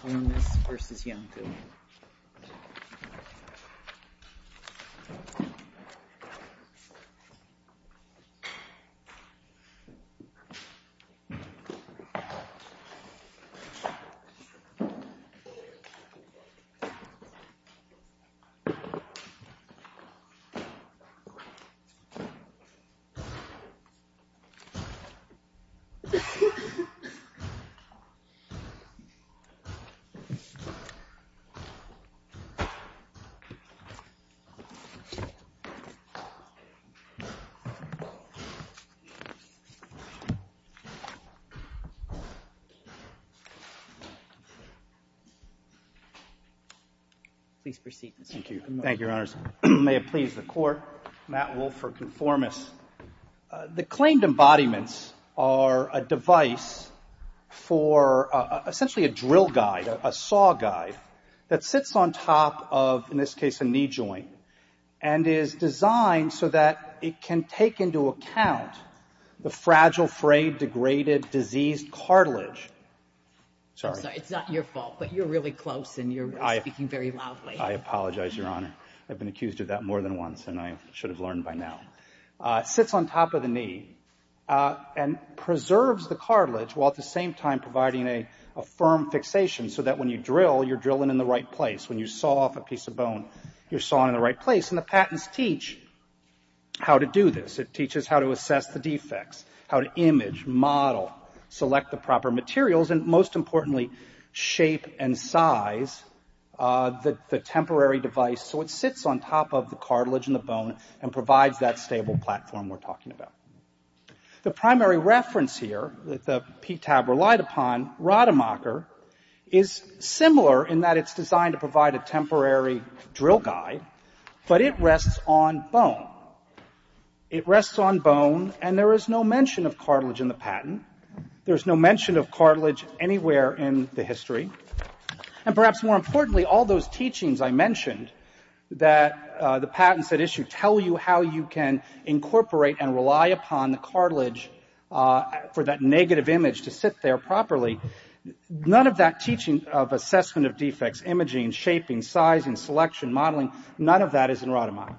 ConforMIS v. Iancu Please proceed, Mr. ConforMIS. Thank you. Thank you, Your Honors. May it please the Court, Matt Wolff for ConforMIS. The claimed embodiments are a device for essentially a drill guide, a saw guide, that sits on top of, in this case, a knee joint and is designed so that it can take into account the fragile, frayed, degraded, diseased cartilage. Sorry. It's not your fault, but you're really close and you're speaking very loudly. I apologize, Your Honor. I've been accused of that more than once and I should have learned by now. Sits on top of the knee and preserves the cartilage while at the same time providing a firm fixation so that when you drill, you're drilling in the right place. When you saw off a piece of bone, you're sawing in the right place. And the patents teach how to do this. It teaches how to assess the defects, how to image, model, select the temporary device so it sits on top of the cartilage and the bone and provides that stable platform we're talking about. The primary reference here that the PTAB relied upon, Rademacher, is similar in that it's designed to provide a temporary drill guide, but it rests on bone. It rests on bone and there is no mention of cartilage in the patent. There's no mention of cartilage anywhere in the history. And perhaps more importantly, all those teachings I mentioned that the patents that issue tell you how you can incorporate and rely upon the cartilage for that negative image to sit there properly, none of that teaching of assessment of defects, imaging, shaping, size and selection, modeling, none of that is in Rademacher.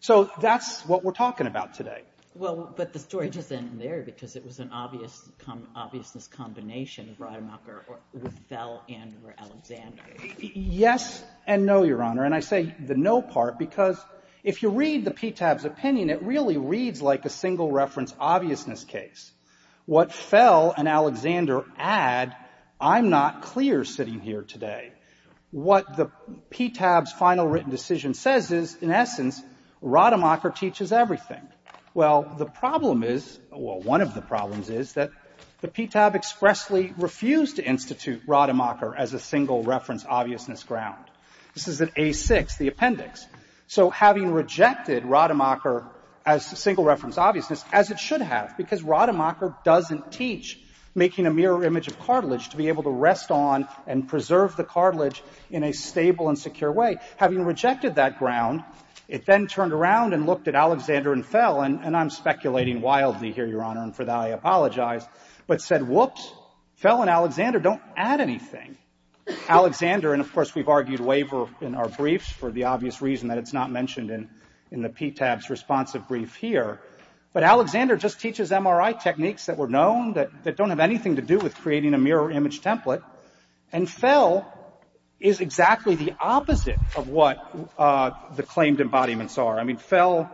So that's what we're talking about today. Well, but the story doesn't end there because it was an obviousness combination of Rademacher or Fell and Alexander. Yes and no, Your Honor. And I say the no part because if you read the PTAB's opinion, it really reads like a single reference obviousness case. What Fell and Alexander add, I'm not clear sitting here today. What the PTAB's final written decision says is, in essence, Rademacher teaches everything. Well, the problem is, well, one of the two is that the PTAB doesn't teach Rademacher as a single reference obviousness ground. This is at A-6, the appendix. So having rejected Rademacher as a single reference obviousness, as it should have, because Rademacher doesn't teach making a mirror image of cartilage to be able to rest on and preserve the cartilage in a stable and secure way, having rejected that ground, it then turned around and looked at Alexander and Fell, and I'm speculating wildly here, Your Honor, and for that I apologize, but said, whoops, Fell and Alexander don't add anything. Alexander, and of course we've argued waiver in our briefs for the obvious reason that it's not mentioned in the PTAB's responsive brief here, but Alexander just teaches MRI techniques that were known, that don't have anything to do with creating a mirror image template, and Fell is exactly the opposite of what the claimed embodiments are. I mean, Fell,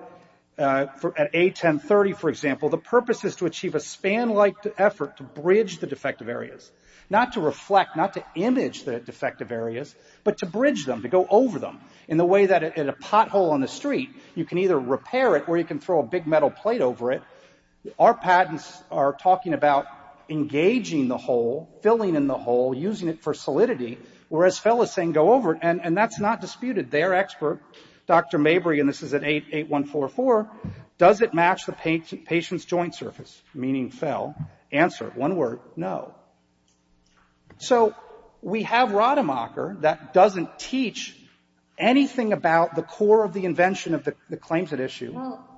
at A-10-30, for example, the purpose is to achieve a span-like effort to bridge the defective areas, not to reflect, not to image the defective areas, but to bridge them, to go over them, in the way that in a pothole on the street, you can either repair it or you can throw a big metal plate over it. Our patents are talking about engaging the hole, filling in the hole, using it for solidity, whereas Fell is saying go over it, and that's not disputed. Their expert, Dr. Mabry, and this is at A-8144, does it match the patient's joint surface, meaning Fell? Answer, one word, no. So we have Rademacher that doesn't teach anything about the core of the invention of the claims at issue. Well,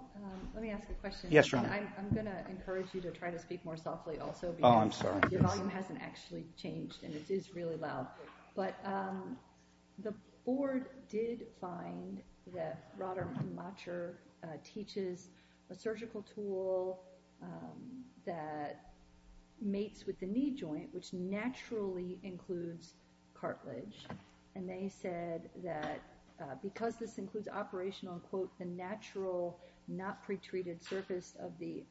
let me ask a question. Yes, Your Honor. I'm going to encourage you to try to speak more softly also because the volume hasn't actually changed and it is really loud. But the board did find that Rademacher teaches a surgical tool that mates with the knee joint, which naturally includes cartilage, and they said that because this includes operational, quote, the natural, not pretreated surface of the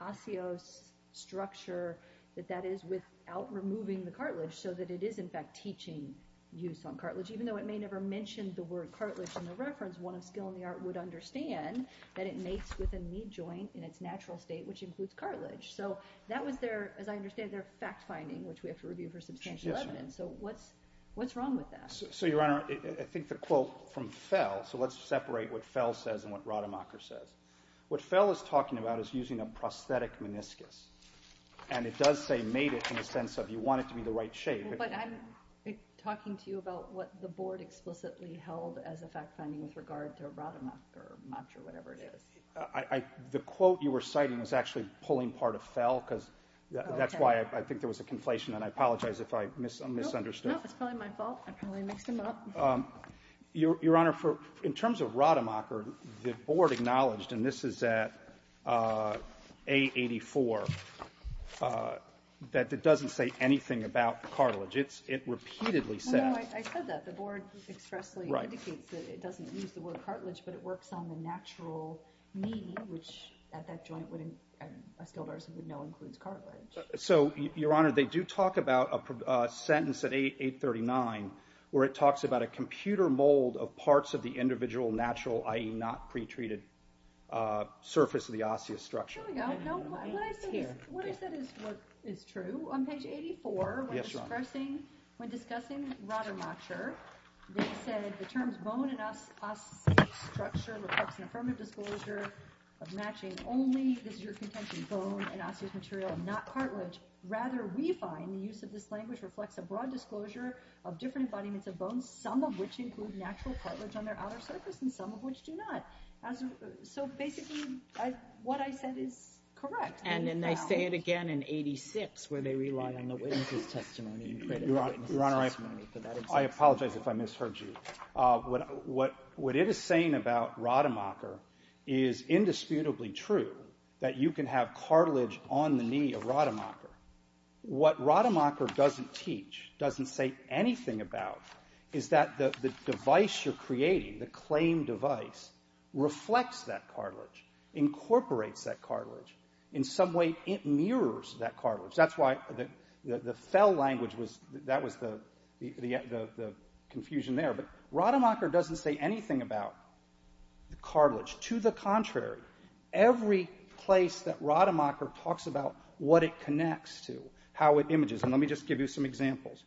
osseous structure that that is without removing the cartilage, so that it is in fact teaching use on cartilage, even though it may never mention the word cartilage in the reference, one of skill in the art would understand that it mates with a knee joint in its natural state, which includes cartilage. So that was their, as I understand it, their fact-finding, which we have to review for substantial evidence. So what's wrong with that? So, Your Honor, I think the quote from Fell, so let's separate what Fell says and what Rademacher says. What Fell is talking about is using a prosthetic meniscus, and it does say mate it in the sense of you want it to be the right shape. But I'm talking to you about what the board explicitly held as a fact-finding with regard to Rademacher much or whatever it is. The quote you were citing is actually pulling part of Fell because that's why I think there was a conflation, and I apologize if I misunderstood. No, it's probably my fault. I probably mixed him up. Your Honor, in terms of Rademacher, the board acknowledged, and this is at A84, that it doesn't say anything about cartilage. It repeatedly says. I said that. The board expressly indicates that it doesn't use the word cartilage, but it works on the natural knee, which at that joint a skilled artist would know includes cartilage. So, Your Honor, they do talk about a sentence at 839 where it talks about a computer mold of parts of the individual natural, i.e. not pretreated, surface of the osteostructure. Here we go. What I said is true. On page 84, when discussing Rademacher, they said the terms bone and osteostructure of matching only, this is your contention, bone and osteomaterial, not cartilage. Rather, we find the use of this language reflects a broad disclosure of different embodiments of bones, some of which include natural cartilage on their outer surface and some of which do not. So, basically, what I said is correct. And then they say it again in 86 where they rely on the witness's testimony. Your Honor, I apologize if I misheard you. What it is saying about Rademacher is indisputably true, that you can have cartilage on the knee of Rademacher. What Rademacher doesn't teach, doesn't say anything about, is that the device you're creating, the claimed device, reflects that cartilage, incorporates that cartilage. In some way, it mirrors that cartilage. That's why the fell language, that was the confusion there. But Rademacher doesn't say anything about the cartilage. To the contrary, every place that Rademacher talks about what it connects to, how it images, and let me just give you some examples.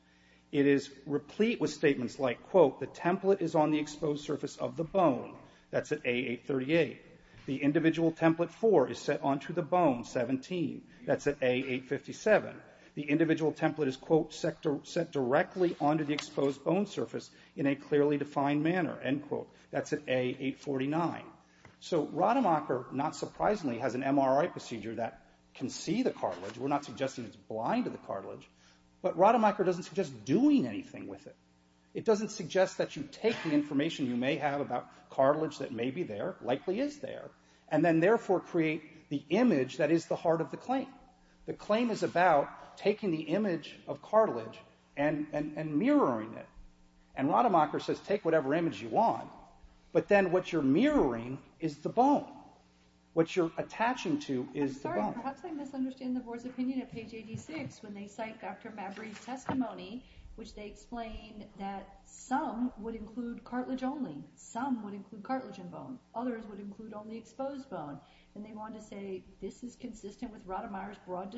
It is replete with statements like, quote, the template is on the exposed surface of the bone. That's at A838. The individual template four is set onto the bone, 17. That's at A857. The individual template is, quote, set directly onto the exposed bone surface in a clearly defined manner, end quote. That's at A849. So Rademacher, not surprisingly, has an MRI procedure that can see the cartilage. We're not suggesting it's blind to the cartilage. But Rademacher doesn't suggest doing anything with it. It doesn't suggest that you take the information you may have about cartilage that may be there, likely is there, and then therefore create the part of the claim. The claim is about taking the image of cartilage and mirroring it. And Rademacher says, take whatever image you want. But then what you're mirroring is the bone. What you're attaching to is the bone. Perhaps I misunderstand the board's opinion at page 86 when they cite Dr. Mabry's testimony, which they explain that some would include cartilage only. Some would include cartilage and bone. Others would include only exposed bone. And they want to say this is consistent with Rademacher's broad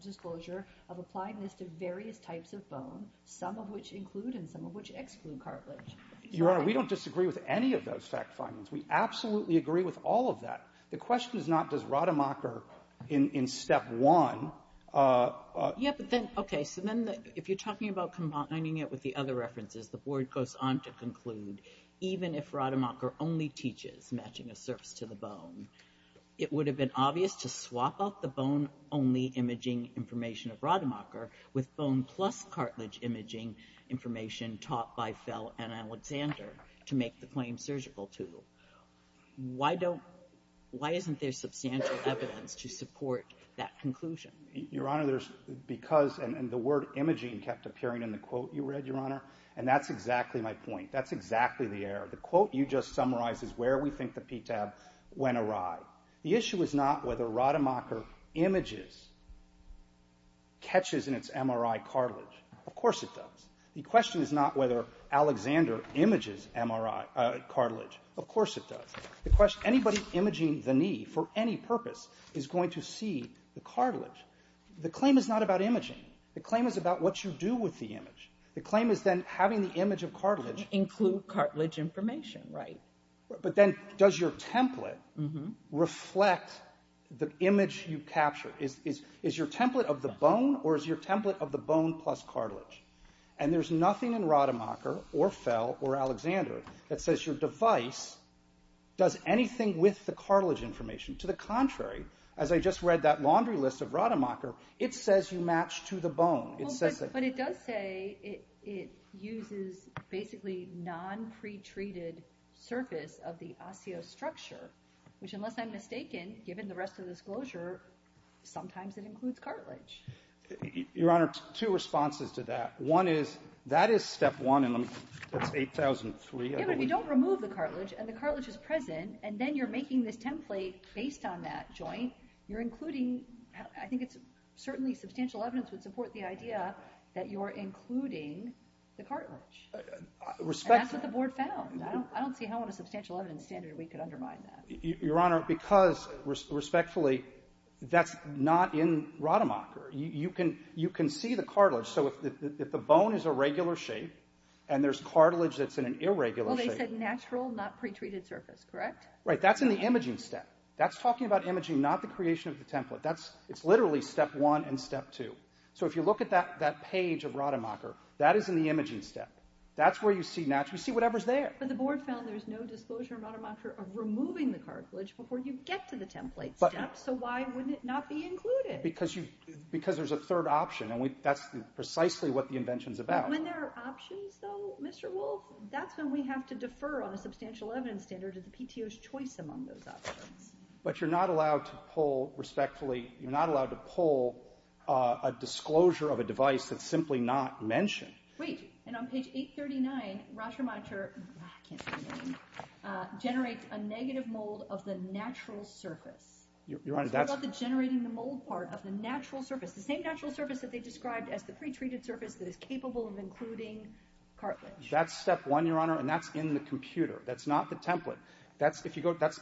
disclosure of applying this to various types of bone, some of which include and some of which exclude cartilage. Your Honor, we don't disagree with any of those fact findings. We absolutely agree with all of that. The question is not does Rademacher in step one ---- Yeah, but then, okay. So then if you're talking about combining it with the other references, the board goes on to conclude even if Rademacher only teaches matching a bone, it would have been obvious to swap out the bone only imaging information of Rademacher with bone plus cartilage imaging information taught by Fell and Alexander to make the claim surgical, too. Why isn't there substantial evidence to support that conclusion? Your Honor, there's because ---- and the word imaging kept appearing in the quote you read, Your Honor. And that's exactly my point. That's exactly the error. The quote you just summarized is where we think the PTAB went awry. The issue is not whether Rademacher images, catches in its MRI cartilage. Of course it does. The question is not whether Alexander images cartilage. Of course it does. The question ---- anybody imaging the knee for any purpose is going to see the cartilage. The claim is not about imaging. The claim is about what you do with the image. The claim is then having the image of cartilage ---- But then does your template reflect the image you capture? Is your template of the bone or is your template of the bone plus cartilage? And there's nothing in Rademacher or Fell or Alexander that says your device does anything with the cartilage information. To the contrary, as I just read that laundry list of Rademacher, it says you match to the bone. But it does say it uses basically non-pretreated surface of the osteostructure, which unless I'm mistaken, given the rest of the disclosure, sometimes it includes cartilage. Your Honor, two responses to that. One is that is step one and that's 8,003. Yeah, but we don't remove the cartilage and the cartilage is present and then you're making this template based on that joint. You're including ---- I think it's certainly substantial evidence would support the idea that you're including the cartilage. And that's what the board found. I don't see how on a substantial evidence standard we could undermine that. Your Honor, because respectfully, that's not in Rademacher. You can see the cartilage. So if the bone is a regular shape and there's cartilage that's in an irregular shape ---- Well, they said natural, not pretreated surface, correct? Right. That's in the imaging step. That's talking about imaging, not the creation of the template. It's literally step one and step two. So if you look at that page of Rademacher, that is in the imaging step. That's where you see natural. You see whatever's there. But the board found there's no disclosure in Rademacher of removing the cartilage before you get to the template step, so why would it not be included? Because there's a third option, and that's precisely what the invention's about. When there are options, though, Mr. Wolf, that's when we have to defer on a substantial evidence standard to the PTO's choice among those options. But you're not allowed to pull, respectfully, you're not allowed to pull a disclosure of a device that's simply not mentioned. Wait. And on page 839, Rademacher generates a negative mold of the natural surface. Your Honor, that's ---- It's about the generating the mold part of the natural surface, the same natural surface that they described as the pretreated surface that is capable of including cartilage. That's step one, Your Honor, and that's in the computer. That's not the template. That's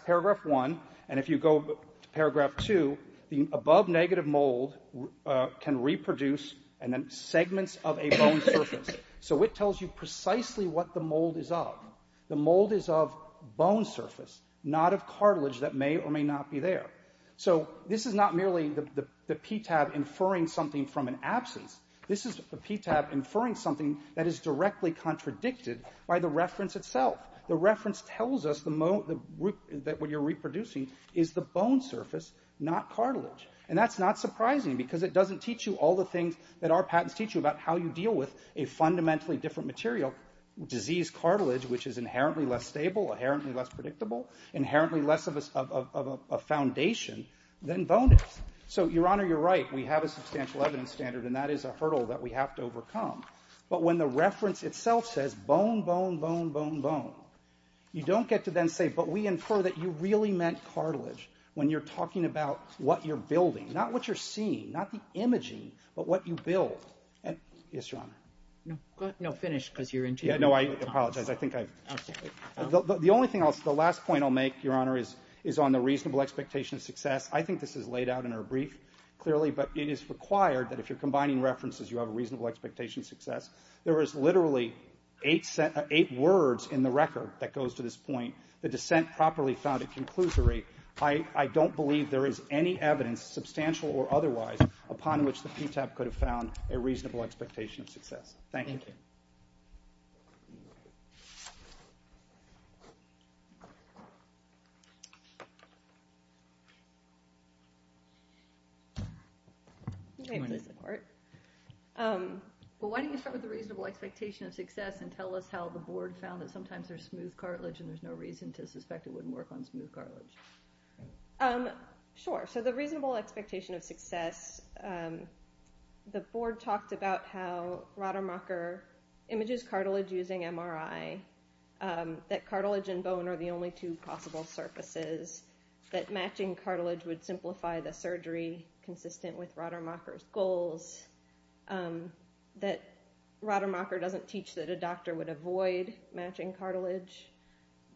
paragraph one, and if you go to paragraph two, the above negative mold can reproduce segments of a bone surface. So it tells you precisely what the mold is of. The mold is of bone surface, not of cartilage that may or may not be there. So this is not merely the PTAB inferring something from an absence. This is the PTAB inferring something that is directly contradicted by the reference itself. The reference tells us that what you're reproducing is the bone surface, not cartilage. And that's not surprising because it doesn't teach you all the things that our patents teach you about how you deal with a fundamentally different material, disease cartilage, which is inherently less stable, inherently less predictable, inherently less of a foundation than bone is. So, Your Honor, you're right. We have a substantial evidence standard, and that is a hurdle that we have to overcome. But when the reference itself says bone, bone, bone, bone, bone, you don't get to then say, but we infer that you really meant cartilage when you're talking about what you're building, not what you're seeing, not the imaging, but what you build. Yes, Your Honor. No, go ahead. No, finish, because you're interrupting. Yeah, no, I apologize. I think I've... I'm sorry. The only thing else, the last point I'll make, Your Honor, is on the reasonable expectation of success. I think this is laid out in our brief clearly, but it is required that if you're combining references, you have a reasonable expectation of success. There is literally eight words in the record that goes to this point, the dissent properly found a conclusory. I don't believe there is any evidence, substantial or otherwise, upon which the PTAP could have found a reasonable expectation of success. Thank you. Well, why don't you start with the reasonable expectation of success and tell us how the board found that sometimes there's smooth cartilage and there's no reason to suspect it wouldn't work on smooth cartilage. Sure. So the reasonable expectation of success, the board talked about how Rademacher images cartilage using MRI, that cartilage and bone are the only two possible surfaces, that matching cartilage would simplify the surgery consistent with Rademacher's goals, that Rademacher doesn't teach that a doctor would avoid matching cartilage,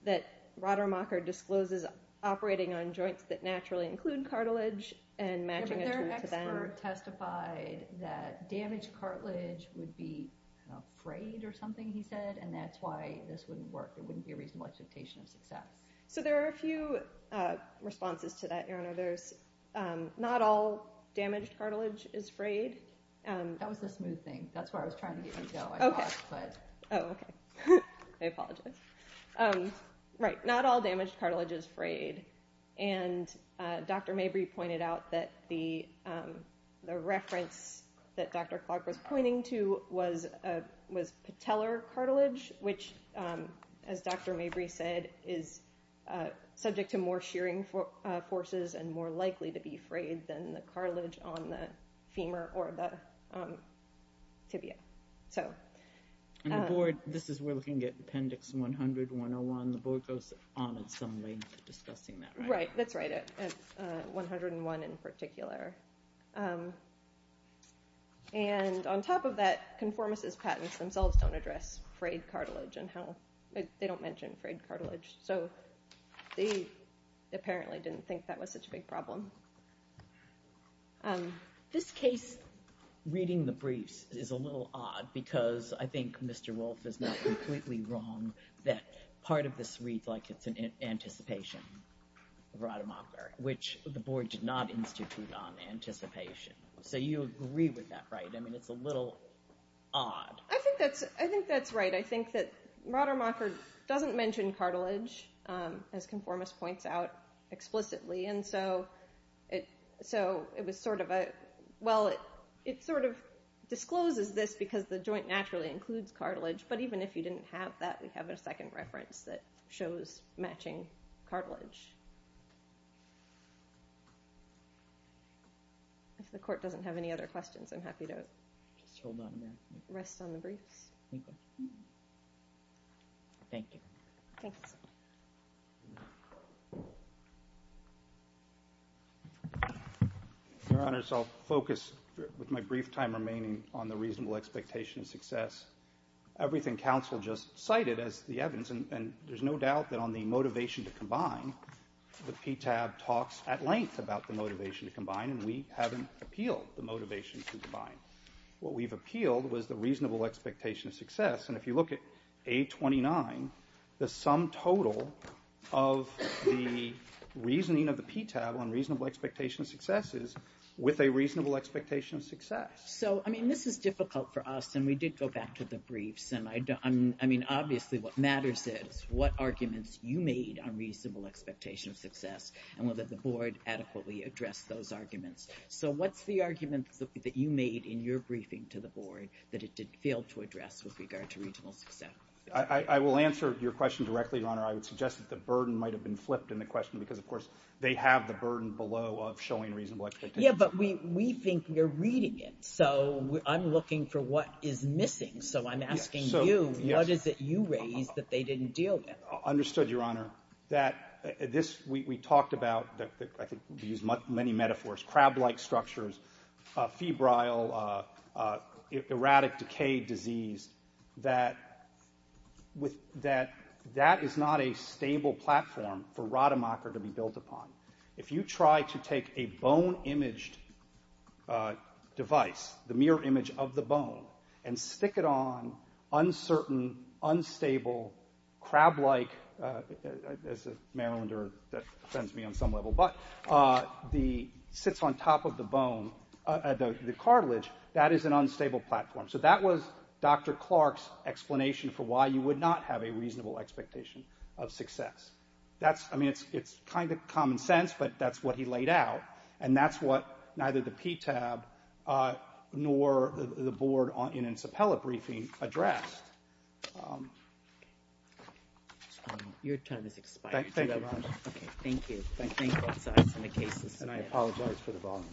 that Rademacher discloses operating on joints that naturally include cartilage and matching a joint to them. But their expert testified that damaged cartilage would be frayed or something, he said, and that's why this wouldn't work. It wouldn't be a reasonable expectation of success. So there are a few responses to that, Your Honor. There's not all damaged cartilage is frayed. That was the smooth thing. That's where I was trying to get you to go. Oh, okay. I apologize. Right. Not all damaged cartilage is frayed, and Dr. Mabry pointed out that the reference that Dr. Clark was pointing to was patellar cartilage, which, as Dr. Mabry said, is subject to more shearing forces and more likely to be frayed than the cartilage on the femur or the tibia. And the board, this is, we're looking at Appendix 100-101. The board goes on at some length discussing that, right? Right. That's right. 101 in particular. And on top of that, Conformis' patents themselves don't address frayed cartilage and how they don't mention frayed cartilage. So they apparently didn't think that was such a big problem. This case, reading the briefs, is a little odd because I think Mr. Wolfe is not completely wrong that part of this read like it's an anticipation of Rademacher, which the board did not institute on anticipation. So you agree with that, right? I mean, it's a little odd. I think that's right. I think that Rademacher doesn't mention cartilage, as Conformis points out explicitly. And so it was sort of a, well, it sort of discloses this because the joint naturally includes cartilage, but even if you didn't have that, we have a second reference that shows matching cartilage. If the court doesn't have any other questions, I'm happy to rest on the briefs. Thank you. Thanks. Your Honors, I'll focus with my brief time remaining on the reasonable expectation of success. Everything counsel just cited as the evidence, and there's no doubt that on the motivation to combine, the PTAB talks at length about the motivation to combine, and we haven't appealed the motivation to combine. What we've appealed was the reasonable expectation of success, and if you look at A29, the sum total of the reasoning of the PTAB on reasonable expectation of success is with a reasonable expectation of success. So, I mean, this is difficult for us, and we did go back to the briefs. I mean, obviously what matters is what arguments you made on reasonable expectation of success and whether the board adequately addressed those arguments. So what's the argument that you made in your briefing to the board that it did fail to address with regard to reasonable success? I will answer your question directly, Your Honor. I would suggest that the burden might have been flipped in the question because, of course, they have the burden below of showing reasonable expectation. Yeah, but we think you're reading it, so I'm looking for what is missing. So I'm asking you, what is it you raised that they didn't deal with? Understood, Your Honor. We talked about, I think we used many metaphors, crab-like structures, febrile, erratic, decayed disease, that that is not a stable platform for Rademacher to be built upon. If you try to take a bone-imaged device, the mirror image of the bone, and stick it on uncertain, unstable, crab-like, as a Marylander that offends me on some level, but sits on top of the cartilage, that is an unstable platform. So that was Dr. Clark's explanation for why you would not have a reasonable expectation of success. I mean, it's kind of common sense, but that's what he laid out, and that's what neither the PTAB nor the board in its appellate briefing addressed. Your time has expired. Thank you very much. Okay, thank you. Thank both sides on the cases. And I apologize for the volume.